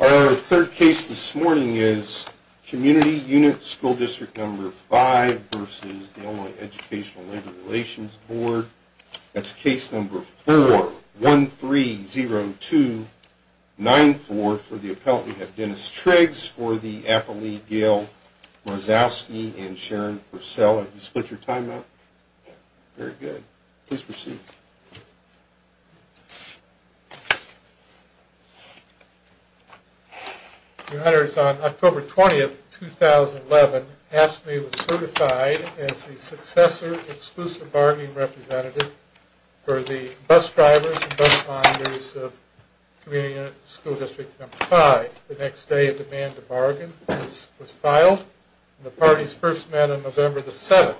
Our third case this morning is Community Unit School District No. 5 v. Illinois Educational Labor Relations Board. That's Case No. 4-130294. For the appellant, we have Dennis Triggs. For the appellate, Gail Marzowski and Sharon Purcell. On October 20, 2011, AFSCME was certified as the successor exclusive bargaining representative for the bus drivers and bus finders of Community Unit School District No. 5. The next day a demand to bargain was filed and the parties first met on November 7.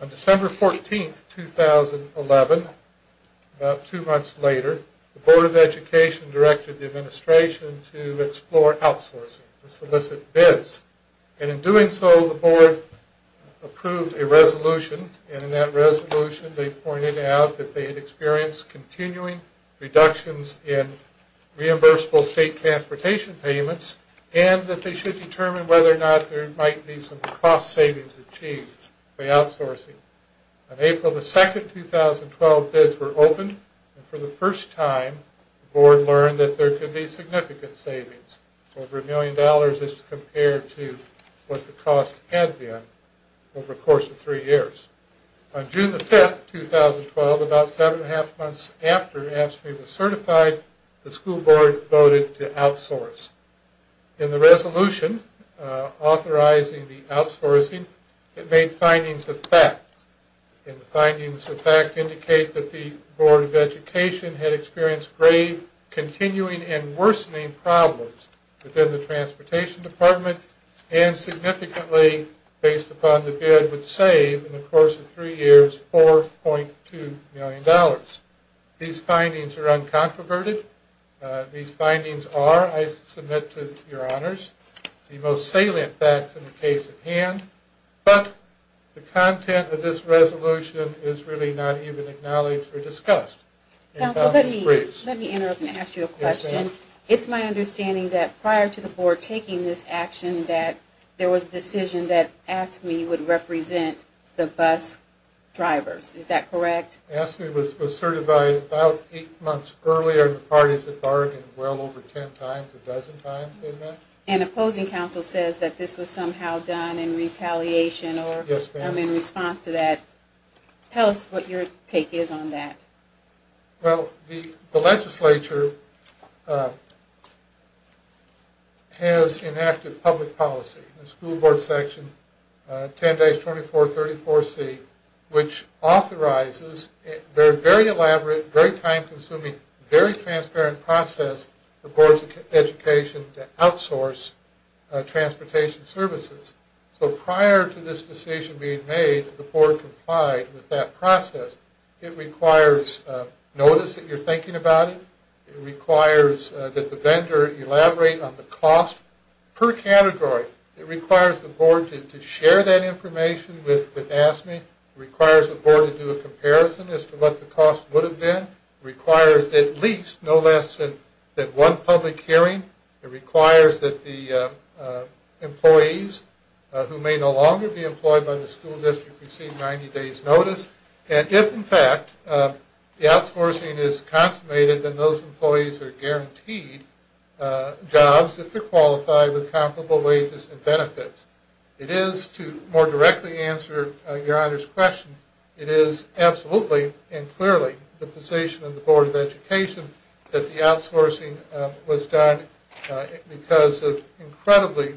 On December 14, 2011, about two months later, the Board of Education directed the administration to explore outsourcing for solicit bids. In doing so, the Board approved a resolution and in that resolution they pointed out that they had experienced continuing reductions in reimbursable state transportation payments and that they should determine whether or not there might be some cost savings achieved by outsourcing. On April 2, 2012, bids were opened and for the first time, the Board learned that there could be significant savings, over a million dollars as compared to what the cost had been over the course of three years. On June 5, 2012, about seven and a half months after AFSCME was certified, the school board voted to outsource. In the resolution authorizing the outsourcing, it made findings of fact. The findings of fact indicate that the Board of Education had experienced grave continuing and worsening problems within the transportation department and significantly, based upon the bid, would save, in the course of three years, $4.2 million. These findings are uncontroverted. These findings are, I submit to your honors, the most salient facts in the case at hand, but the content of this resolution is really not even acknowledged or discussed. Counsel, let me interrupt and ask you a question. It's my understanding that prior to the Board taking this action that there was a decision that AFSCME would represent the bus drivers. Is that correct? AFSCME was certified about eight months earlier than the parties that bargained, well over ten times, a dozen times they met. And opposing counsel says that this was somehow done in retaliation or in response to that. Tell us what your take is on that. Well, the legislature has enacted public policy, the school board section 10-2434C, which authorizes a very elaborate, very time-consuming, very transparent process for boards of education to outsource transportation services. So prior to this decision being made, the board complied with that process. It requires notice that you're thinking about it. It requires that the vendor elaborate on the cost per category. It requires the board to share that information with AFSCME. It requires the board to do a comparison as to what the cost would have been. It requires at least no less than one public hearing. It requires that the employees who may no longer be employed by the school district receive 90 days' notice. And if, in fact, the outsourcing is consummated, then those employees are guaranteed jobs if they're qualified with comparable wages and benefits. It is, to more directly answer Your Honor's question, it is absolutely and clearly the position of the Board of Education that the outsourcing was done because of incredibly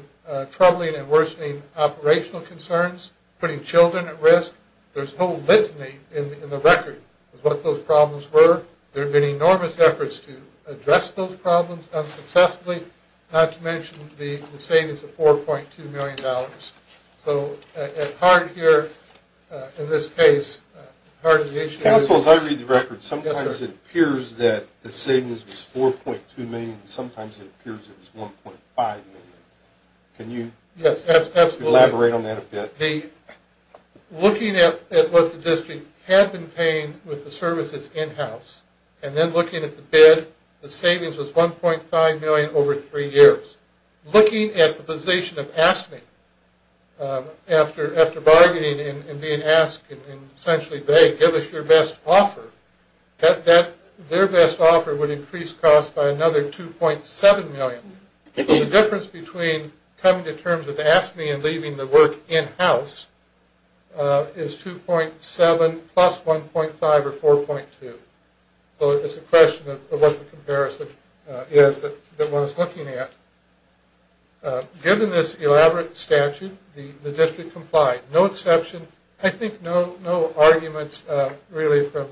troubling and worsening operational concerns, putting children at risk. There's no litany in the record of what those problems were. There have been enormous efforts to address those problems unsuccessfully, not to mention the savings of $4.2 million. So at heart here, in this case, part of the issue is... Counsel, as I read the record, sometimes it appears that the savings was $4.2 million and sometimes it appears it was $1.5 million. Can you... Yes, absolutely. ...elaborate on that a bit? Looking at what the district had been paying with the services in-house, and then looking at the bid, the savings was $1.5 million over three years. Looking at the position of AFSCME, after bargaining and being asked, and essentially they give us your best offer, their best offer would increase costs by another $2.7 million. The difference between coming to terms with AFSCME and leaving the work in-house is $2.7 plus $1.5 or $4.2. So it's a question of what the comparison is that one is looking at. Given this elaborate statute, the district complied. No exception. I think no arguments really from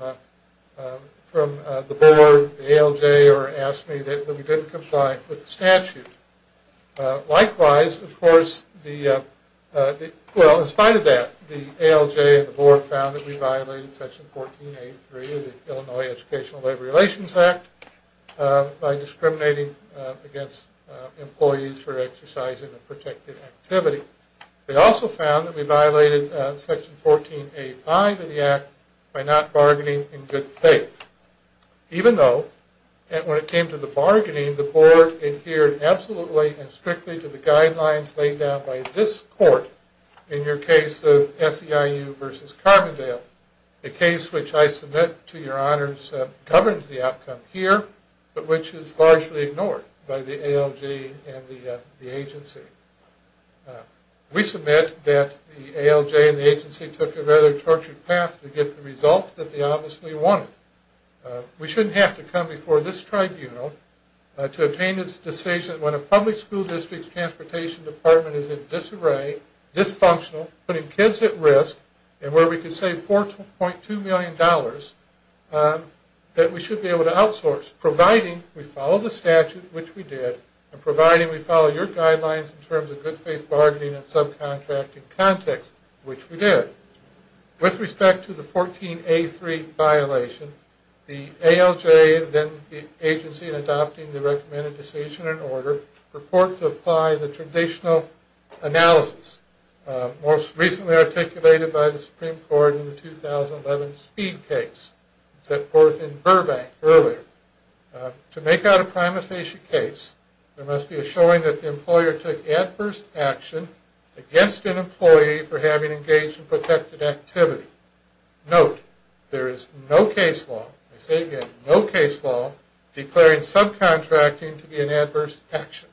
the board, the ALJ, or AFSCME that we didn't comply with the statute. Likewise, of course, the... Well, in spite of that, the ALJ and the board found that we violated Section 1483 of the Illinois Educational Labor Relations Act by discriminating against employees for exercising a protected activity. They also found that we violated Section 1485 of the act by not bargaining in good faith. Even though, when it came to the bargaining, the board adhered absolutely and strictly to the guidelines laid down by this court in your case of SEIU versus Carbondale, a case which I submit to your honors governs the outcome here, but which is largely ignored by the ALJ and the agency. We submit that the ALJ and the agency took a rather tortured path to get the results that they obviously wanted. We shouldn't have to come before this tribunal to obtain this decision when a public school district's transportation department is in disarray, dysfunctional, putting kids at risk, and where we could save $4.2 million that we should be able to outsource, providing we follow the statute, which we did, and providing we follow your guidelines in terms of good faith bargaining and subcontracting context, which we did. With respect to the 14A3 violation, the ALJ and then the agency in adopting the recommended decision and order purport to apply the traditional analysis most recently articulated by the Supreme Court in the 2011 Speed case set forth in Burbank earlier. To make out a prima facie case, there must be a showing that the employer took adverse action against an employee for having engaged in protected activity. Note, there is no case law, I say again, no case law declaring subcontracting to be an adverse action.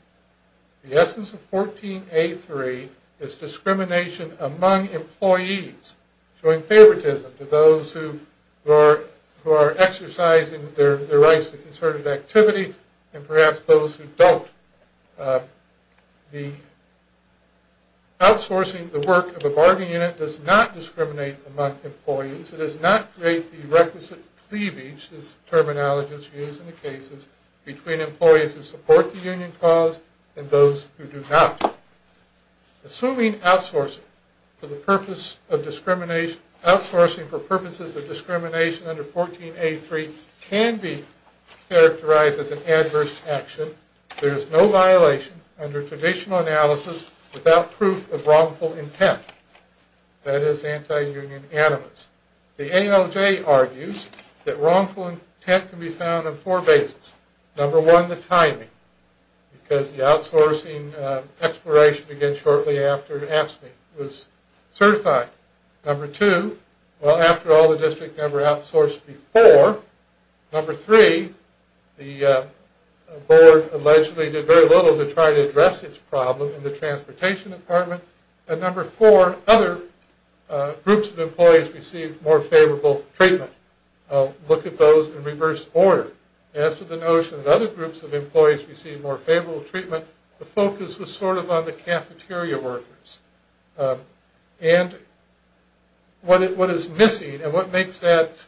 The essence of 14A3 is discrimination among employees, showing favoritism to those who are exercising their rights to concerted activity and perhaps those who don't. The outsourcing the work of a bargaining unit does not discriminate among employees. It does not create the requisite cleavage, as terminology is used in the cases, between employees who support the union cause and those who do not. Assuming outsourcing for purposes of discrimination under 14A3 can be characterized as an adverse action, there is no violation under traditional analysis without proof of wrongful intent, that is anti-union animus. The ALJ argues that wrongful intent can be found on four bases. Number one, the timing, because the outsourcing expiration began shortly after AFSCME was certified. Number two, well after all the district never outsourced before. Number three, the board allegedly did very little to try to address its problem in the transportation department. And number four, other groups of employees received more favorable treatment. I'll look at those in reverse order. As to the notion that other groups of employees received more favorable treatment, the focus was sort of on the cafeteria workers. And what is missing, and what makes that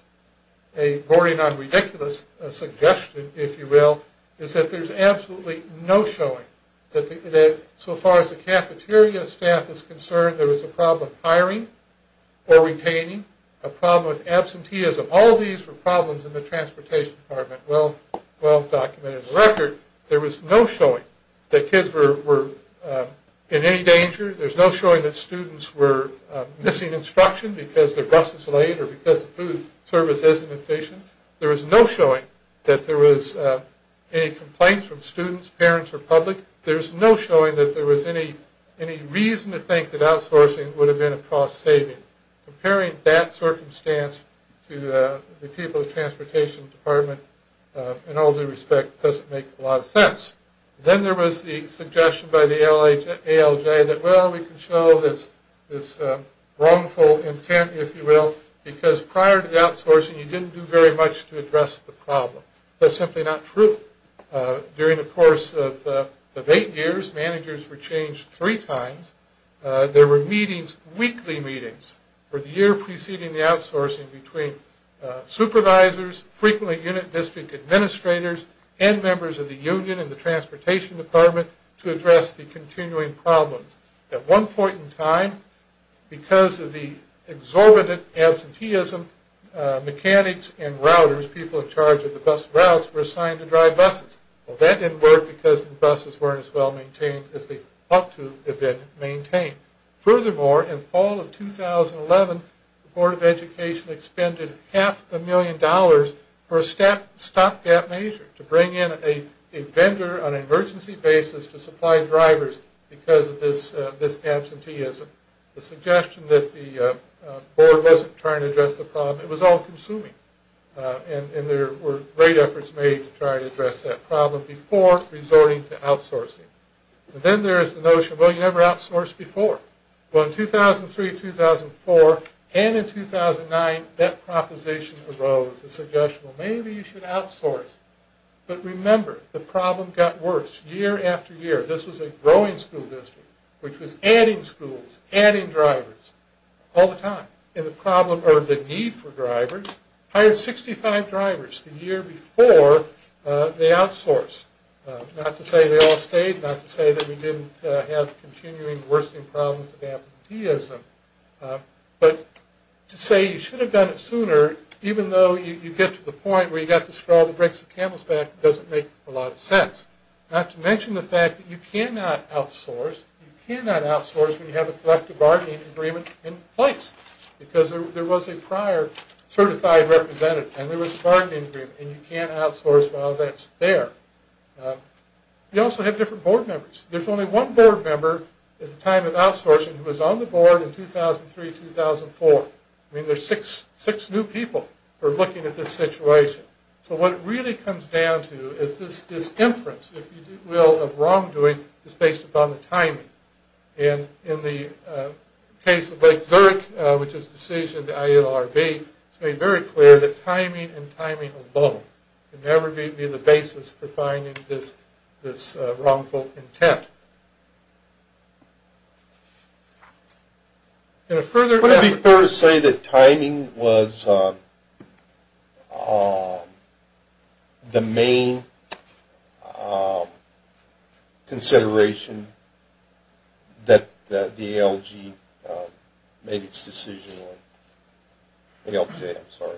a boring, non-ridiculous suggestion, if you will, is that there's absolutely no showing that so far as the cafeteria staff is concerned, there was a problem hiring or retaining, a problem with absenteeism. All these were problems in the transportation department. Well documented. The record, there was no showing that kids were in any danger. There's no showing that students were missing instruction because their bus was late or because the food service isn't efficient. There was no showing that there was any complaints from students, parents, or public. There's no showing that there was any reason to think that outsourcing would have been a cost saving. Comparing that circumstance to the people in the transportation department, in all due respect, doesn't make a lot of sense. Then there was the suggestion by the ALJ that, well, we can show this wrongful intent, if you will, because prior to the outsourcing, you didn't do very much to address the problem. That's simply not true. During the course of eight years, managers were changed three times. There were meetings, weekly meetings, for the year preceding the outsourcing between supervisors, frequently unit district administrators, and members of the union in the transportation department to address the continuing problems. At one point in time, because of the exorbitant absenteeism, mechanics and routers, people in charge of the bus routes, were assigned to drive buses. Well, that didn't work because the buses weren't as well maintained as they ought to have been maintained. Furthermore, in fall of 2011, the Board of Education expended half a million dollars for a stopgap measure to bring in a vendor on an emergency basis to supply drivers because of this absenteeism. The suggestion that the board wasn't trying to address the problem, it was all consuming, and there were great efforts made to try to address that problem before resorting to outsourcing. Then there is the notion, well, you never outsourced before. Well, in 2003, 2004, and in 2009, that proposition arose. The suggestion, well, maybe you should outsource. But remember, the problem got worse year after year. This was a growing school district, which was adding schools, adding drivers all the time. And the need for drivers hired 65 drivers the year before they outsourced. Not to say they all stayed, not to say that we didn't have continuing worsening problems of absenteeism, but to say you should have done it sooner, even though you get to the point where you've got to scrawl the bricks and camels back, doesn't make a lot of sense. Not to mention the fact that you cannot outsource. You cannot outsource when you have a collective bargaining agreement in place, because there was a prior certified representative, and there was a bargaining agreement, and you can't outsource while that's there. You also have different board members. There's only one board member at the time of outsourcing who was on the board in 2003, 2004. I mean, there's six new people who are looking at this situation. So what it really comes down to is this inference, if you will, of wrongdoing is based upon the timing. And in the case of Lake Zurich, which is a decision of the ILRB, it's made very clear that timing and timing alone can never be the basis for finding this wrongful intent. Would it be fair to say that timing was the main consideration that the ALG made its decision on? ALJ, I'm sorry.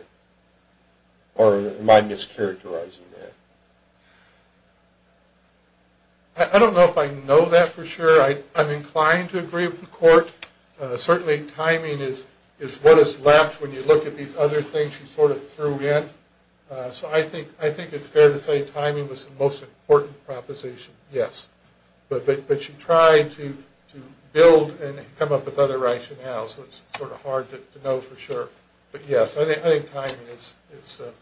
Or am I mischaracterizing that? I don't know if I know that for sure. I'm inclined to agree with the court. Certainly timing is what is left when you look at these other things she sort of threw in. So I think it's fair to say timing was the most important proposition, yes. But she tried to build and come up with other rationales, so it's sort of hard to know for sure. But yes, I think timing is a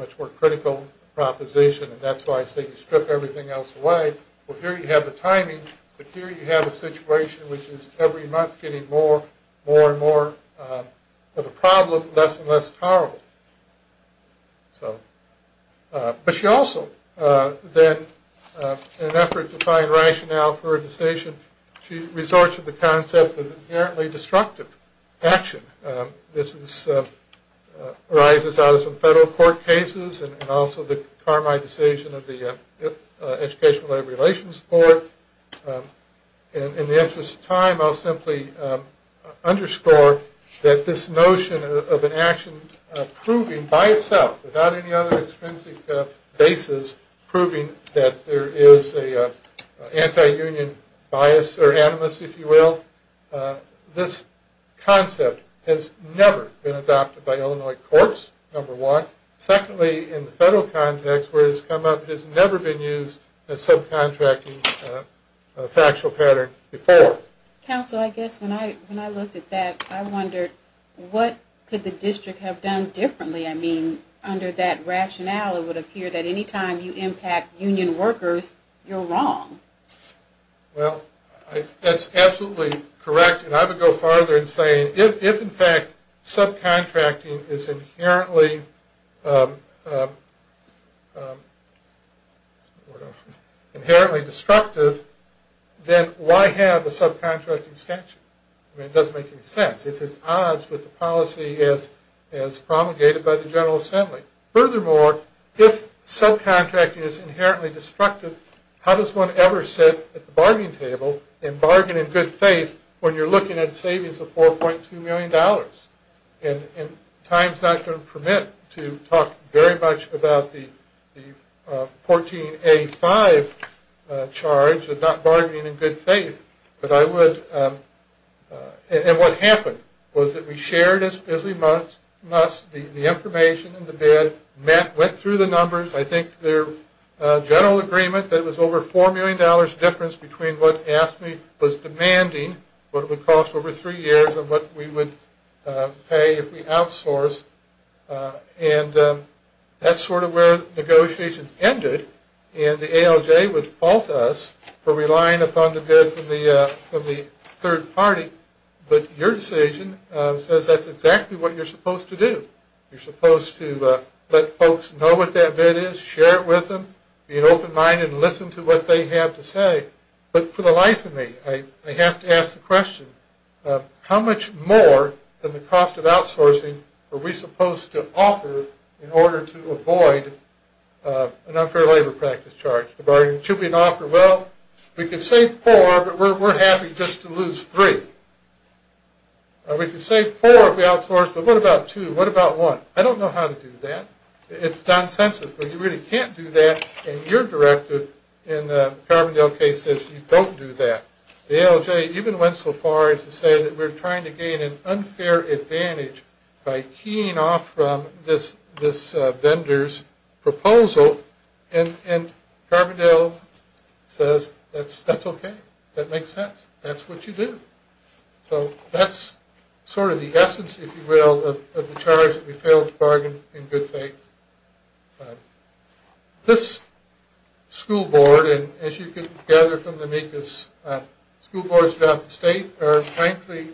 much more critical proposition, and that's why I say you strip everything else away. Well, here you have the timing, but here you have a situation which is every month getting more and more of a problem, less and less tolerable. But she also, in an effort to find rationale for her decision, she resorts to the concept of inherently destructive action. This arises out of some federal court cases and also the Carmi decision of the Educational Labor Relations Board. In the interest of time, I'll simply underscore that this notion of an action proving by itself, without any other extrinsic basis proving that there is an anti-union bias or animus, if you will, this concept has never been adopted by Illinois courts, number one. Secondly, in the federal context where it has come up, it has never been used as subcontracting a factual pattern before. Counsel, I guess when I looked at that, I wondered what could the district have done differently? I mean, under that rationale, it would appear that any time you impact union workers, you're wrong. Well, that's absolutely correct. And I would go farther in saying if, in fact, subcontracting is inherently destructive, then why have a subcontracting statute? I mean, it doesn't make any sense. It's at odds with the policy as promulgated by the General Assembly. Furthermore, if subcontracting is inherently destructive, how does one ever sit at the bargaining table and bargain in good faith when you're looking at savings of $4.2 million? And time's not going to permit to talk very much about the 14A5 charge of not bargaining in good faith. And what happened was that we shared as we must the information in the bid, went through the numbers. I think their general agreement that it was over $4 million difference between what AFSCME was demanding, what it would cost over three years, and what we would pay if we outsource. And that's sort of where the negotiations ended, and the ALJ would fault us for relying upon the bid from the third party. But your decision says that's exactly what you're supposed to do. You're supposed to let folks know what that bid is, share it with them, be an open mind, and listen to what they have to say. But for the life of me, I have to ask the question, how much more than the cost of outsourcing are we supposed to offer in order to avoid an unfair labor practice charge? Should we offer, well, we can save four, but we're happy just to lose three. We can save four if we outsource, but what about two? What about one? I don't know how to do that. It's nonsensical. You really can't do that, and your directive in the Carbondale case says you don't do that. The ALJ even went so far as to say that we're trying to gain an unfair advantage by keying off from this vendor's proposal, and Carbondale says that's okay. That makes sense. That's what you do. So that's sort of the essence, if you will, of the charge that we failed to bargain in good faith. This school board, and as you can gather from the school boards throughout the state, are frankly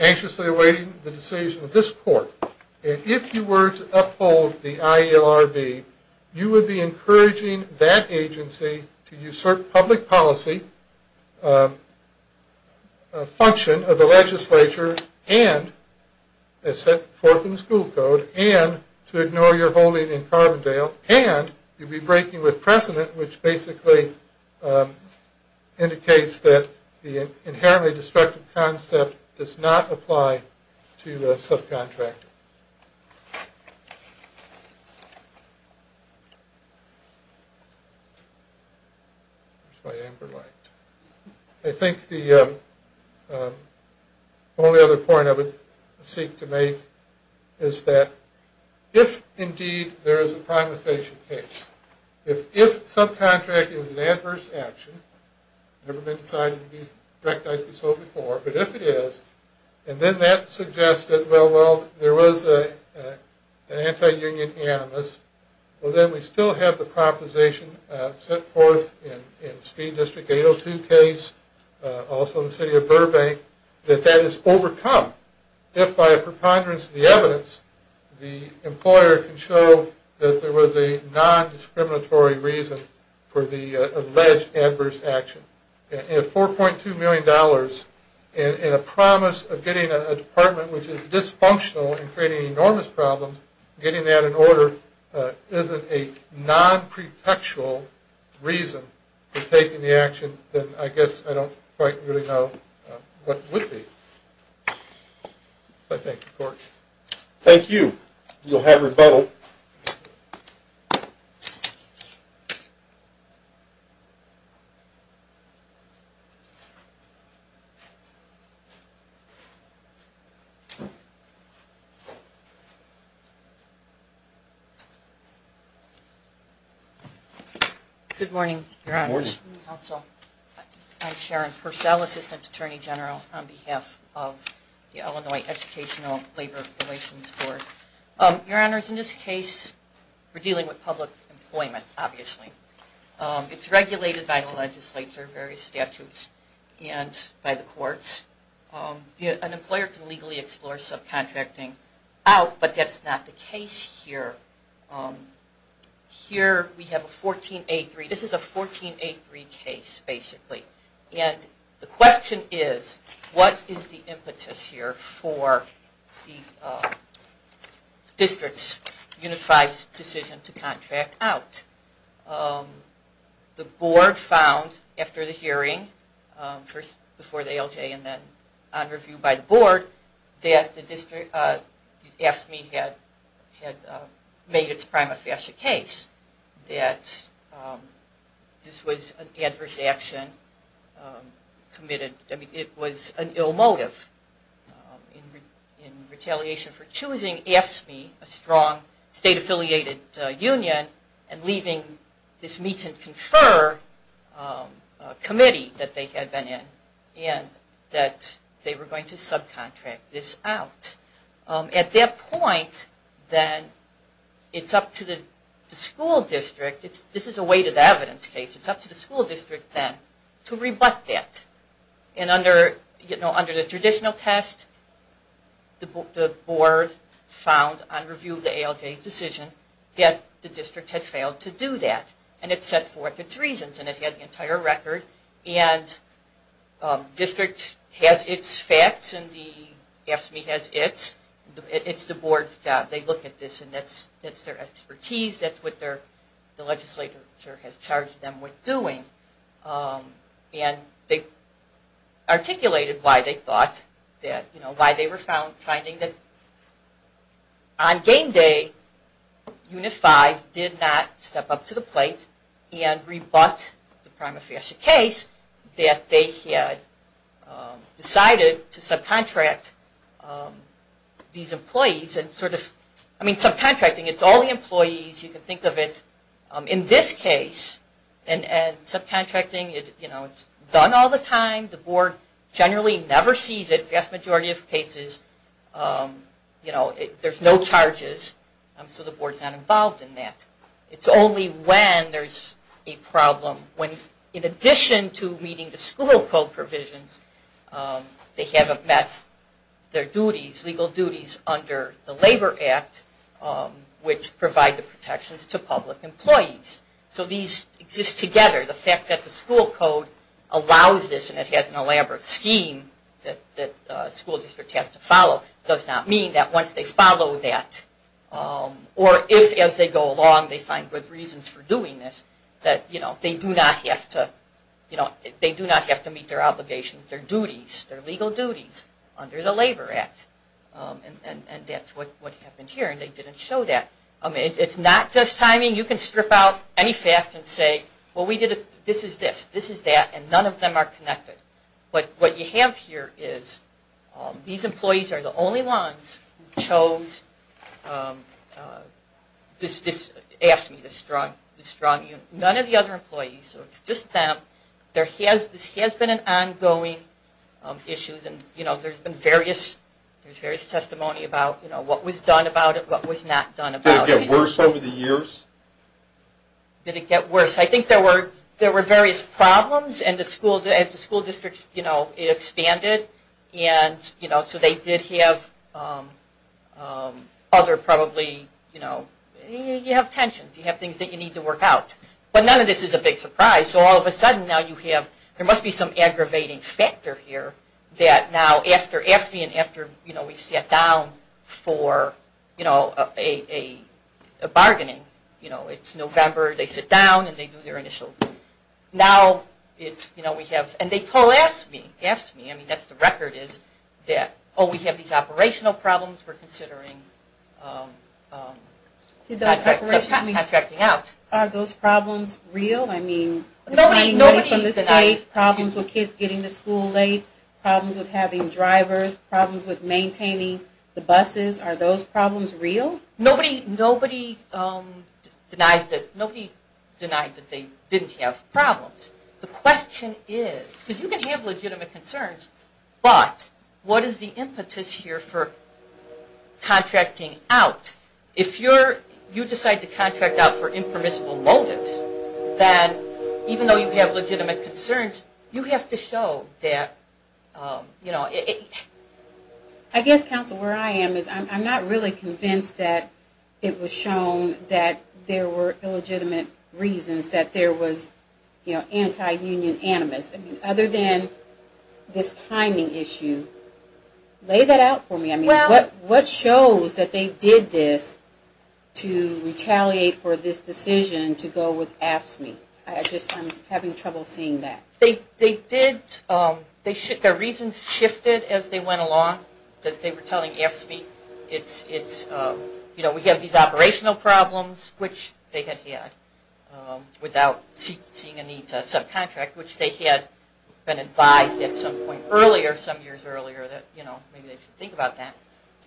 anxiously awaiting the decision of this court. If you were to uphold the ILRB, you would be encouraging that agency to usurp public policy function of the legislature and, as set forth in the school code, and to ignore your holding in Carbondale, and you'd be breaking with precedent, which basically indicates that the inherently destructive concept does not apply to subcontractors. That's why Amber liked it. I think the only other point I would seek to make is that if indeed there is a prime evasion case, if subcontracting is an adverse action, never been decided to be recognized to be so before, but if it is, and then that suggests that, well, there was an anti-union animus, well, then we still have the proposition set forth in Speed District 802 case, also in the city of Burbank, that that is overcome if, by a preponderance of the evidence, the employer can show that there was a non-discriminatory reason for the alleged adverse action. At $4.2 million, and a promise of getting a department which is dysfunctional and creating enormous problems, getting that in order isn't a non-pretextual reason for taking the action, then I guess I don't quite really know what it would be. I thank the Court. Thank you. You'll have rebuttal. Good morning, Your Honors. Good morning. I'm Sharon Purcell, Assistant Attorney General on behalf of the Illinois Educational Labor Relations Board. Your Honors, in this case we're dealing with public employment, obviously. It's regulated by the legislature, various statutes, and by the courts. An employer can legally explore subcontracting out, but that's not the case here. Here we have a 1483. This is a 1483 case, basically. And the question is, what is the impetus here for the district's unified decision to contract out? The board found after the hearing, first before the ALJ and then on review by the board, that AFSCME had made its prima facie case that this was an adverse action committed. It was an ill motive. In retaliation for choosing AFSCME, a strong state-affiliated union, and leaving this meet-and-confer committee that they had been in, and that they were going to subcontract this out. At that point, then, it's up to the school district. This is a weighted evidence case. It's up to the school district then to rebut that. And under the traditional test, the board found on review of the ALJ's decision that the district had failed to do that. And it set forth its reasons, and it had the entire record. And district has its facts, and the AFSCME has its. It's the board's job. They look at this, and that's their expertise. That's what the legislature has charged them with doing. And they articulated why they were finding that on game day, UNIFI did not step up to the plate and rebut the prima facie case that they had decided to subcontract these employees. I mean, subcontracting, it's all the employees. You can think of it in this case. Subcontracting, it's done all the time. The board generally never sees it. The vast majority of cases, there's no charges, so the board's not involved in that. It's only when there's a problem. When, in addition to meeting the school code provisions, they haven't met their legal duties under the Labor Act, which provide the protections to public employees. So these exist together. The fact that the school code allows this, and it has an elaborate scheme that a school district has to follow, does not mean that once they follow that, or if as they go along they find good reasons for doing this, that they do not have to meet their obligations, their duties, their legal duties under the Labor Act. And that's what happened here, and they didn't show that. I mean, it's not just timing. You can strip out any fact and say, well, this is this, this is that, and none of them are connected. But what you have here is these employees are the only ones who chose this, asked me this, none of the other employees, so it's just them. This has been an ongoing issue. There's been various testimony about what was done about it, what was not done about it. Did it get worse over the years? Did it get worse? I think there were various problems as the school districts expanded, and so they did have other probably, you know, you have tensions. You have things that you need to work out. But none of this is a big surprise. So all of a sudden now you have, there must be some aggravating factor here that now after AFSCME and after, you know, we sat down for, you know, a bargaining, you know, it's November, they sit down and they do their initial. Now it's, you know, we have, and they told AFSCME, AFSCME, I mean that's the record is that, oh, we have these operational problems, we're considering contracting out. Are those problems real? I mean, declining money from the state, problems with kids getting to school late, problems with having drivers, problems with maintaining the buses, are those problems real? Nobody denies that, nobody denied that they didn't have problems. The question is, because you can have legitimate concerns, but what is the impetus here for contracting out? If you decide to contract out for impermissible motives, then even though you have legitimate concerns, you have to show that, you know. I guess, counsel, where I am is I'm not really convinced that it was shown that there were illegitimate reasons that there was, you know, anti-union animus. Other than this timing issue, lay that out for me. I mean, what shows that they did this to retaliate for this decision to go with AFSCME? I just am having trouble seeing that. They did, their reasons shifted as they went along, that they were telling AFSCME, it's, you know, we have these operational problems, which they had had, without seeing a need to subcontract, which they had been advised at some point earlier, some years earlier, that, you know, maybe they should think about that.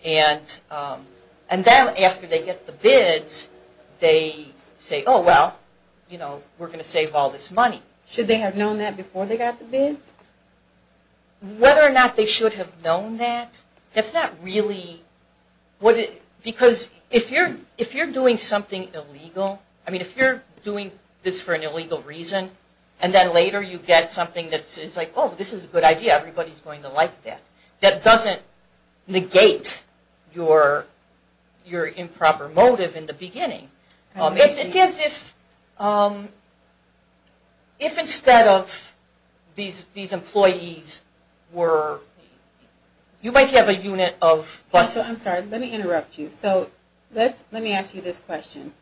And then after they get the bids, they say, oh, well, you know, we're going to save all this money. Should they have known that before they got the bids? Whether or not they should have known that, that's not really, because if you're doing something illegal, I mean, if you're doing this for an illegal reason, and then later you get something that's like, oh, this is a good idea, everybody's going to like that, that doesn't negate your improper motive in the beginning. It's as if, if instead of these employees were, you might have a unit of... I'm sorry, let me interrupt you. So let me ask you this question.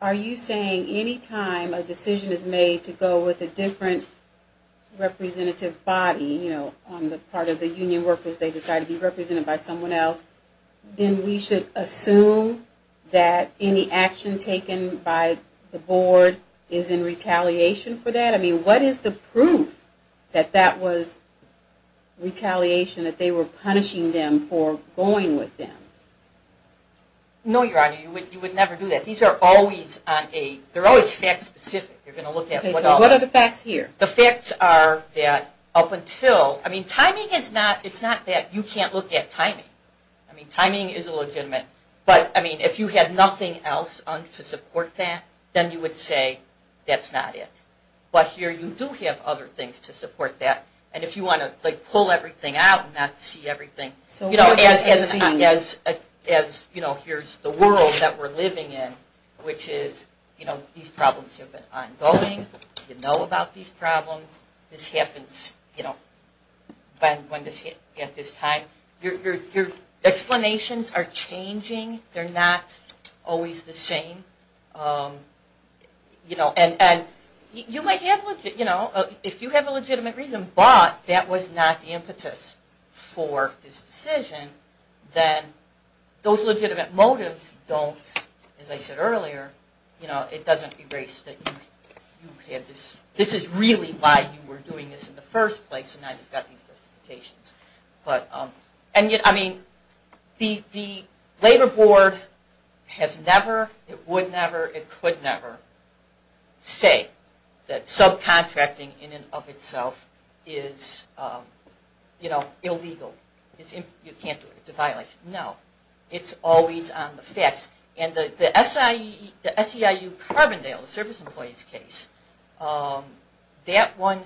Are you saying any time a decision is made to go with a different representative body, you know, on the part of the union workers, they decide to be represented by someone else, then we should assume that any action taken by the board is in retaliation for that? I mean, what is the proof that that was retaliation, that they were punishing them for going with them? No, Your Honor, you would never do that. These are always on a, they're always fact-specific. You're going to look at... Okay, so what are the facts here? The facts are that up until, I mean, timing is not, it's not that you can't look at timing. I mean, timing is legitimate. But, I mean, if you had nothing else to support that, then you would say that's not it. But here you do have other things to support that. And if you want to, like, pull everything out and not see everything. So what does that mean? As, you know, here's the world that we're living in, which is, you know, these problems have been ongoing. You know about these problems. This happens, you know, at this time. Your explanations are changing. They're not always the same. You know, and you might have, you know, if you have a legitimate reason, but that was not the impetus for this decision, then those legitimate motives don't, as I said earlier, you know, it doesn't erase that you had this, this is really why you were doing this in the first place and now you've got these justifications. But, I mean, the Labor Board has never, it would never, it could never say that subcontracting in and of itself is, you know, illegal. You can't do it, it's a violation. No. It's always on the facts. And the SEIU Carbondale, the service employees case, that one,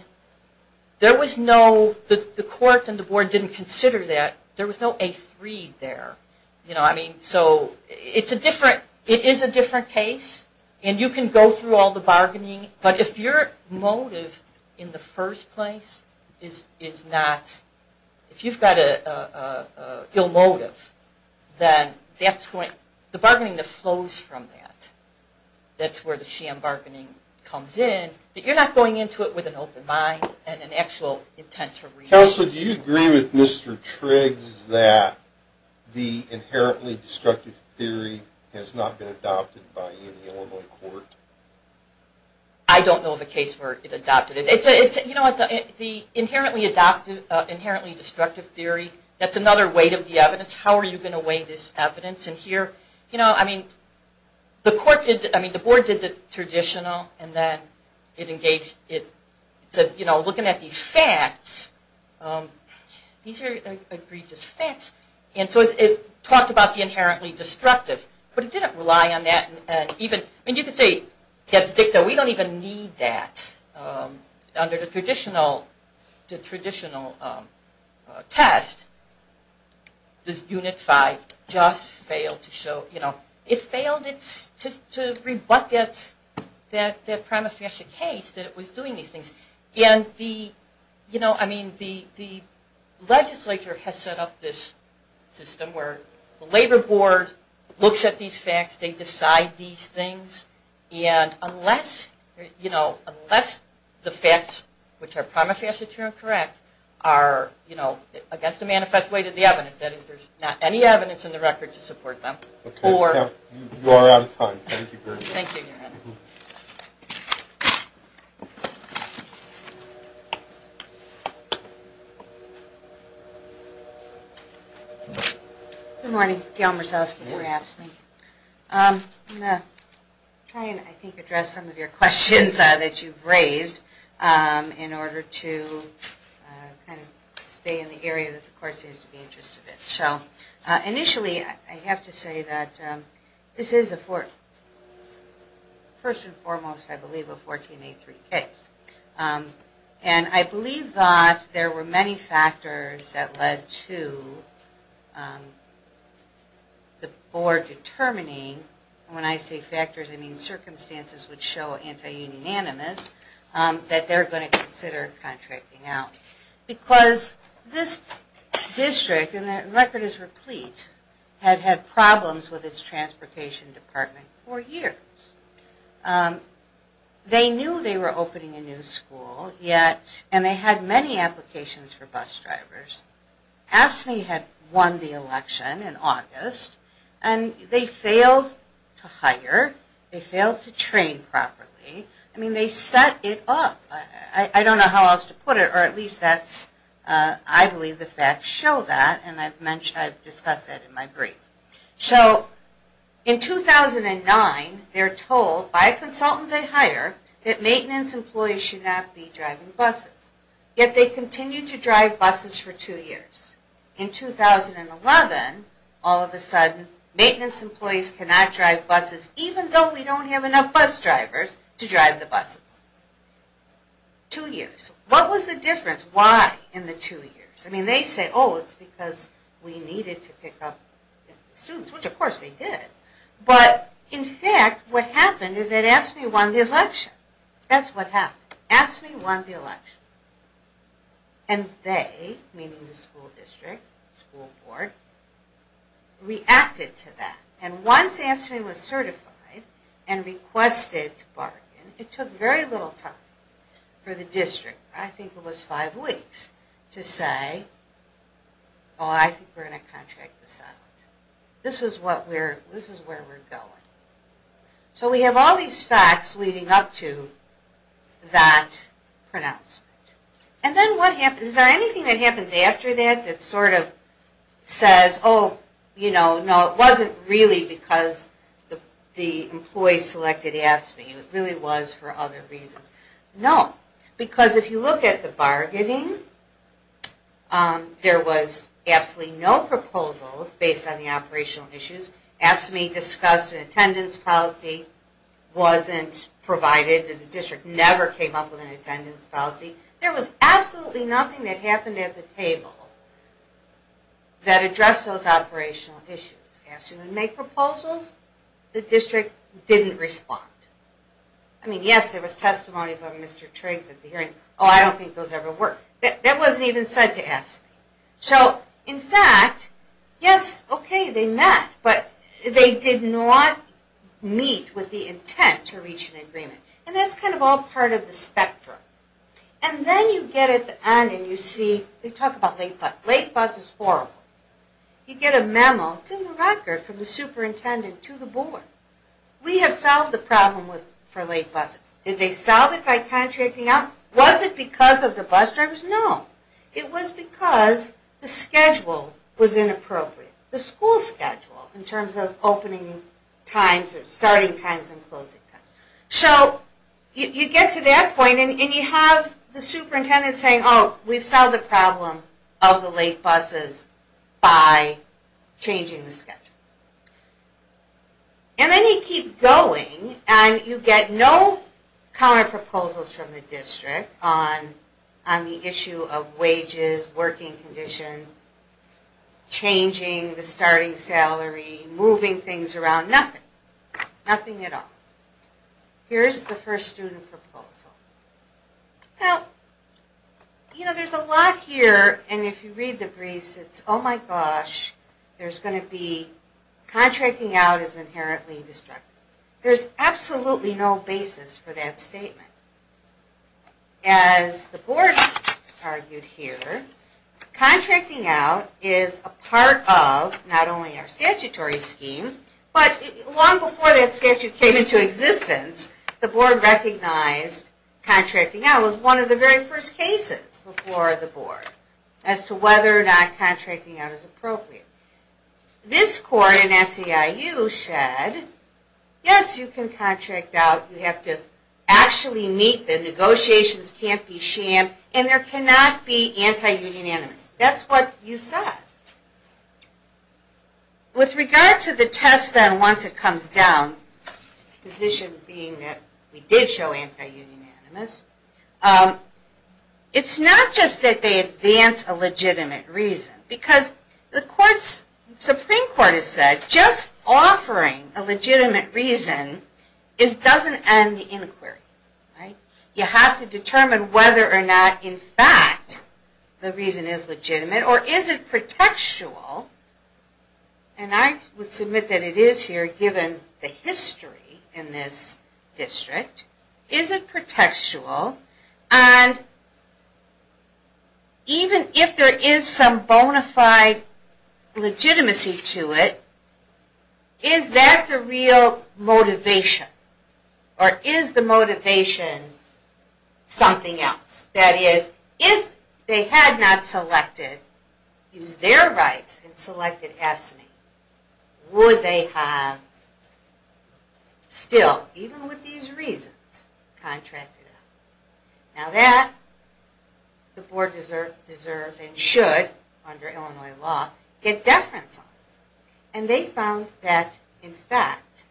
there was no, the court and the board didn't consider that. There was no A3 there. You know, I mean, so it's a different, it is a different case and you can go through all the bargaining, but if your motive in the first place is not, if you've got an ill motive, then that's going, the bargaining flows from that. That's where the sham bargaining comes in. But you're not going into it with an open mind and an actual intent to read. Counsel, do you agree with Mr. Triggs that the inherently destructive theory has not been adopted by any Illinois court? I don't know of a case where it adopted it. It's, you know, the inherently destructive theory, that's another weight of the evidence. How are you going to weigh this evidence? And here, you know, I mean, the court did, I mean, the board did the traditional and then it engaged, it said, you know, looking at these facts, these are egregious facts, and so it talked about the inherently destructive, but it didn't rely on that and even, I mean, you could say, yes, dicta, we don't even need that. Under the traditional test, this Unit 5 just failed to show, you know, it failed to rebut that prima facie case that it was doing these things. And the, you know, I mean, the legislature has set up this system where the labor board looks at these facts, they decide these things, and unless, you know, unless the facts, which are prima facie true and correct, are, you know, against the manifest weight of the evidence, that is, there's not any evidence in the record to support them. Okay. You are out of time. Thank you very much. Thank you, Your Honor. Thank you. Good morning. Gail Marsalski, perhaps. I'm going to try and, I think, address some of your questions that you've raised in order to kind of stay in the area that the court seems to be interested in. Initially, I have to say that this is a first and foremost, I believe, a 1483 case. And I believe that there were many factors that led to the board determining, and when I say factors I mean circumstances which show anti-unanimous, that they're going to consider contracting out. Because this district, and the record is replete, had had problems with its transportation department for years. They knew they were opening a new school, yet, and they had many applications for bus drivers. AFSCME had won the election in August, and they failed to hire, they failed to train properly. I mean, they set it up. I don't know how else to put it, or at least that's, I believe the facts show that, and I've discussed that in my brief. So, in 2009, they're told by a consultant they hire that maintenance employees should not be driving buses. Yet, they continued to drive buses for two years. In 2011, all of a sudden, maintenance employees cannot drive buses, even though we don't have enough bus drivers to drive the buses. Two years. What was the difference? Why in the two years? I mean, they say, oh, it's because we needed to pick up students, which of course they did. But, in fact, what happened is that AFSCME won the election. That's what happened. AFSCME won the election. And they, meaning the school district, school board, reacted to that. And once AFSCME was certified and requested to bargain, it took very little time for the district, I think it was five weeks, to say, oh, I think we're going to contract this out. This is what we're, this is where we're going. So we have all these facts leading up to that pronouncement. And then what happens, is there anything that happens after that that sort of says, oh, you know, no, it wasn't really because the employees selected AFSCME. It really was for other reasons. No, because if you look at the bargaining, there was absolutely no proposals based on the operational issues. AFSCME discussed an attendance policy wasn't provided. The district never came up with an attendance policy. There was absolutely nothing that happened at the table that addressed those operational issues. AFSCME would make proposals. The district didn't respond. I mean, yes, there was testimony from Mr. Triggs at the hearing. Oh, I don't think those ever worked. That wasn't even said to AFSCME. So, in fact, yes, okay, they met, but they did not meet with the intent to reach an agreement. And that's kind of all part of the spectrum. And then you get at the end and you see, they talk about late bus. Late bus is horrible. You get a memo. It's in the record from the superintendent to the board. We have solved the problem for late buses. Did they solve it by contracting out? Was it because of the bus drivers? No. It was because the schedule was inappropriate. The school schedule in terms of opening times or starting times and closing times. So, you get to that point and you have the superintendent saying, oh, we've solved the problem of the late buses by changing the schedule. And then you keep going and you get no counter proposals from the district on the issue of wages, working conditions, changing the starting salary, moving things around, nothing. Nothing at all. Here's the first student proposal. Now, you know, there's a lot here and if you read the briefs, it's, oh, my gosh, there's going to be contracting out is inherently destructive. There's absolutely no basis for that statement. As the board argued here, contracting out is a part of not only our statutory scheme, but long before that statute came into existence, the board recognized contracting out was one of the very first cases before the board as to whether or not contracting out is appropriate. This court in SEIU said, yes, you can contract out. You have to actually meet the negotiations, can't be shammed, and there cannot be anti-union animus. That's what you said. With regard to the test then once it comes down, the position being that we did show anti-union animus, it's not just that they advance a legitimate reason, because the Supreme Court has said just offering a legitimate reason doesn't end the inquiry. You have to determine whether or not, in fact, the reason is legitimate or is it pretextual, and I would submit that it is here given the history in this district, is it pretextual, and even if there is some bona fide legitimacy to it, is that the real motivation? Or is the motivation something else? That is, if they had not selected, used their rights, and selected AFSCME, would they have still, even with these reasons, contracted out? Now that the board deserves and should, under Illinois law, get deference on, and they found that, in fact,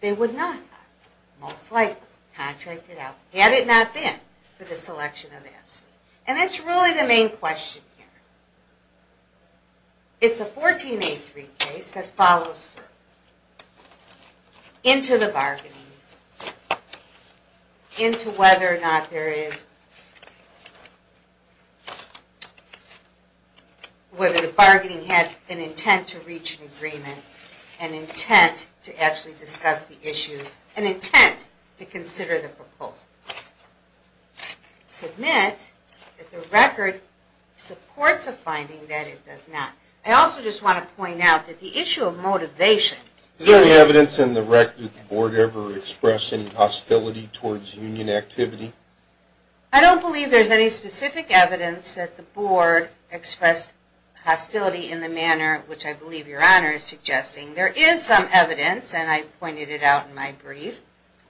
they would not have most likely contracted out, had it not been for the selection of AFSCME. And that's really the main question here. It's a 14A3 case that follows through into the bargaining, into whether or not there is, whether the bargaining had an intent to reach an agreement, an intent to actually discuss the issue, an intent to consider the proposal. I would submit that the record supports a finding that it does not. I also just want to point out that the issue of motivation... Is there any evidence in the record that the board ever expressed any hostility towards union activity? I don't believe there is any specific evidence that the board expressed hostility in the manner which I believe Your Honor is suggesting. There is some evidence, and I pointed it out in my brief,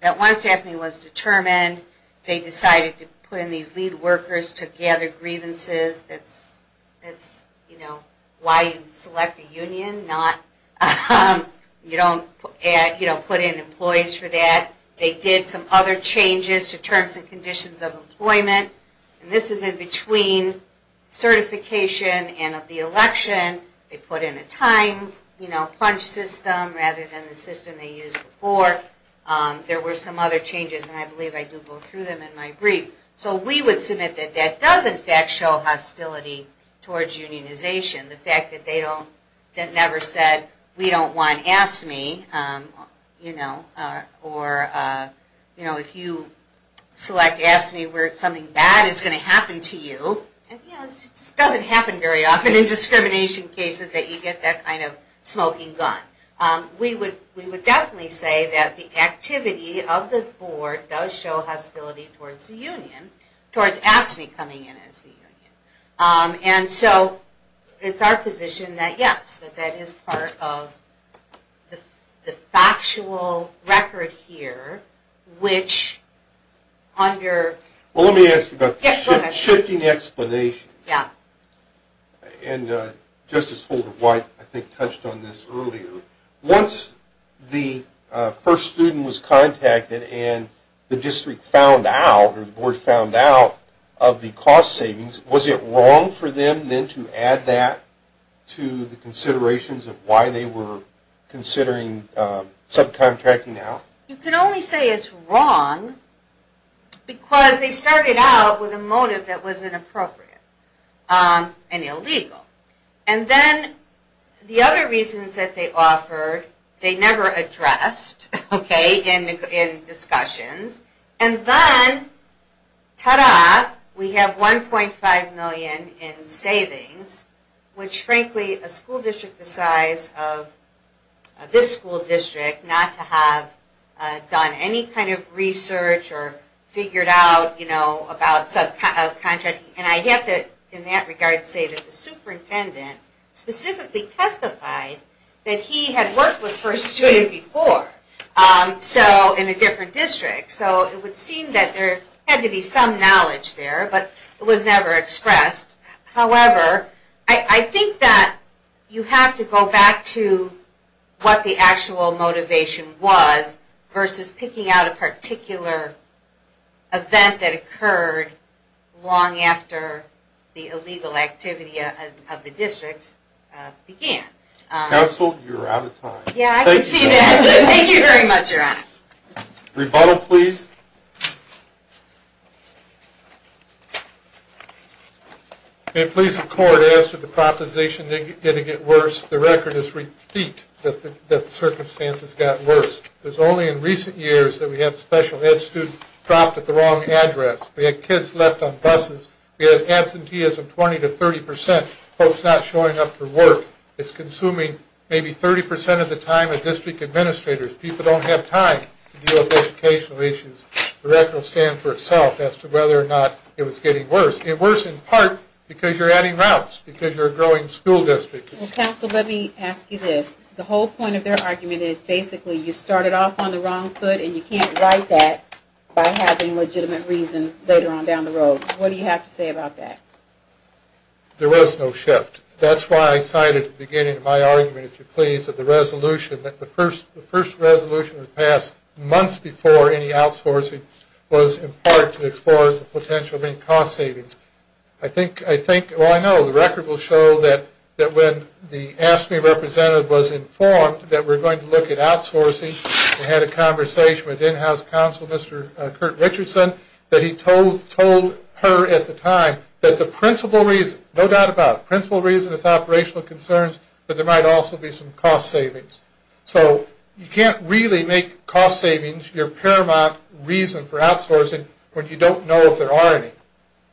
that once AFSCME was determined, they decided to put in these lead workers to gather grievances. That's why you select a union, you don't put in employees for that. They did some other changes to terms and conditions of employment. And this is in between certification and of the election. They put in a time punch system rather than the system they used before. But there were some other changes, and I believe I do go through them in my brief. So we would submit that that does in fact show hostility towards unionization. The fact that they never said, we don't want AFSCME, or if you select AFSCME where something bad is going to happen to you. It doesn't happen very often in discrimination cases that you get that kind of smoking gun. We would definitely say that the activity of the board does show hostility towards the union, towards AFSCME coming in as the union. And so it's our position that yes, that is part of the factual record here, which under... Well let me ask you about the shifting explanations. Yeah. And Justice Holder-White I think touched on this earlier. Once the first student was contacted and the district found out or the board found out of the cost savings, was it wrong for them then to add that to the considerations of why they were considering subcontracting out? You can only say it's wrong because they started out with a motive that wasn't appropriate. And illegal. And then the other reasons that they offered, they never addressed in discussions. And then, ta-da, we have $1.5 million in savings, which frankly a school district the size of this school district not to have done any kind of research or figured out about subcontracting. And I have to in that regard say that the superintendent specifically testified that he had worked with First Student before. So in a different district. So it would seem that there had to be some knowledge there, but it was never expressed. However, I think that you have to go back to what the actual motivation was versus picking out a particular event that occurred long after the illegal activity of the district began. Counsel, you're out of time. Yeah, I can see that. Thank you very much, Your Honor. Rebuttal, please. May it please the Court, as to the proposition getting it worse, the record is repeat that the circumstances got worse. It's only in recent years that we have special ed students dropped at the wrong address. We had kids left on buses. We had absentees of 20 to 30 percent, folks not showing up for work. It's consuming maybe 30 percent of the time of district administrators. People don't have time to deal with educational issues. The record will stand for itself as to whether or not it was getting worse. It's worse in part because you're adding routes, because you're a growing school district. Counsel, let me ask you this. The whole point of their argument is basically you started off on the wrong foot, and you can't right that by having legitimate reasons later on down the road. What do you have to say about that? There was no shift. That's why I cited at the beginning of my argument, if you please, that the resolution, that the first resolution was passed months before any outsourcing was in part to explore the potential of any cost savings. I think, well, I know the record will show that when the AFSCME representative was informed that we're going to look at outsourcing, we had a conversation with in-house counsel, Mr. Curt Richardson, that he told her at the time that the principal reason, no doubt about it, the principal reason is operational concerns, but there might also be some cost savings. So you can't really make cost savings your paramount reason for outsourcing when you don't know if there are any.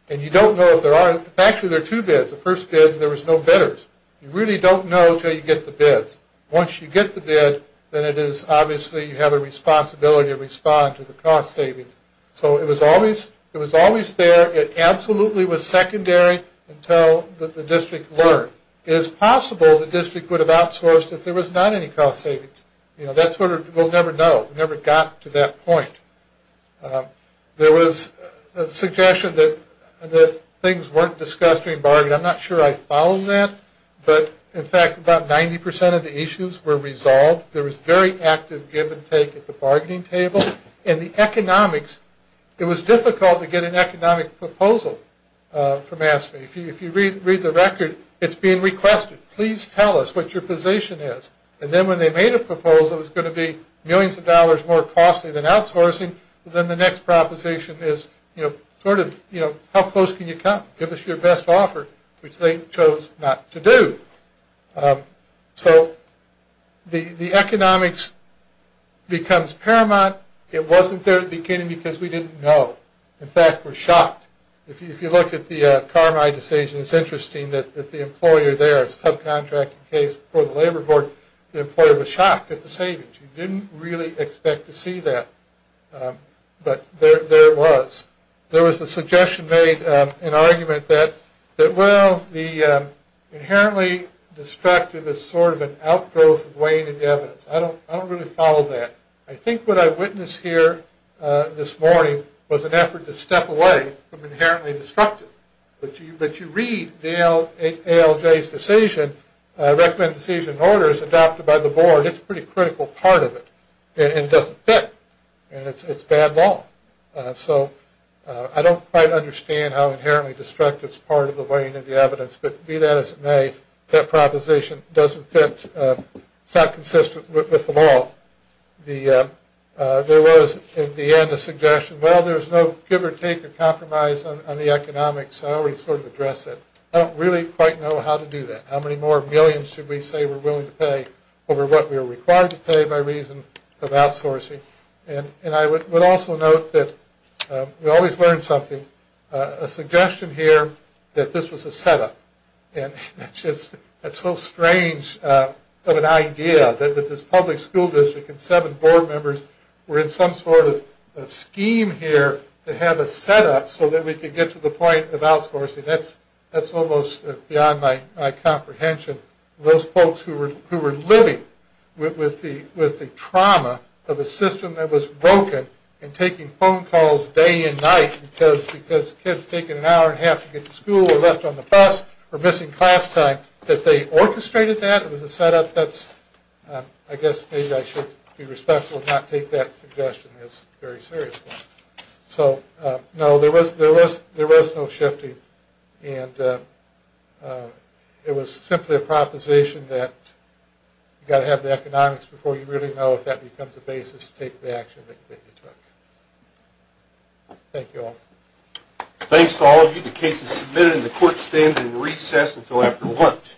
And you don't know if there are any. In fact, there are two bids. The first bid, there was no bidders. You really don't know until you get the bids. Once you get the bid, then it is obviously you have a responsibility to respond to the cost savings. So it was always there. It absolutely was secondary until the district learned. It is possible the district would have outsourced if there was not any cost savings. You know, that's what we'll never know. We never got to that point. There was a suggestion that things weren't discussed during bargaining. I'm not sure I followed that. But, in fact, about 90% of the issues were resolved. There was very active give and take at the bargaining table. And the economics, it was difficult to get an economic proposal from AFSCME. If you read the record, it's being requested. Please tell us what your position is. And then when they made a proposal, it was going to be millions of dollars more costly than outsourcing. Then the next proposition is, you know, sort of, you know, how close can you come? Give us your best offer, which they chose not to do. So the economics becomes paramount. It wasn't there at the beginning because we didn't know. In fact, we're shocked. If you look at the Carmine decision, it's interesting that the employer there, a subcontracting case for the labor board, the employer was shocked at the savings. He didn't really expect to see that. But there it was. There was a suggestion made, an argument that, well, the inherently destructive is sort of an outgrowth of weighing in the evidence. I don't really follow that. I think what I witnessed here this morning was an effort to step away from inherently destructive. But you read the ALJ's decision, recommended decision orders adopted by the board. It's a pretty critical part of it. And it doesn't fit. And it's bad law. So I don't quite understand how inherently destructive is part of the weighing in the evidence. But be that as it may, that proposition doesn't fit. It's not consistent with the law. There was, at the end, a suggestion. Well, there's no give or take or compromise on the economics. I already sort of addressed it. I don't really quite know how to do that. How many more millions should we say we're willing to pay over what we are required to pay by reason of outsourcing? And I would also note that we always learn something. A suggestion here that this was a setup. And that's just so strange of an idea that this public school district and seven board members were in some sort of scheme here to have a setup so that we could get to the point of outsourcing. That's almost beyond my comprehension. Those folks who were living with the trauma of a system that was broken and taking phone calls day and night because kids taking an hour and a half to get to school or left on the bus or missing class time, that they orchestrated that? It was a setup? I guess maybe I should be respectful and not take that suggestion very seriously. So, no, there was no shifting. And it was simply a proposition that you've got to have the economics before you really know if that becomes a basis to take the action that you took. Thank you all. Thanks to all of you. The case is submitted and the court stands in recess until after lunch.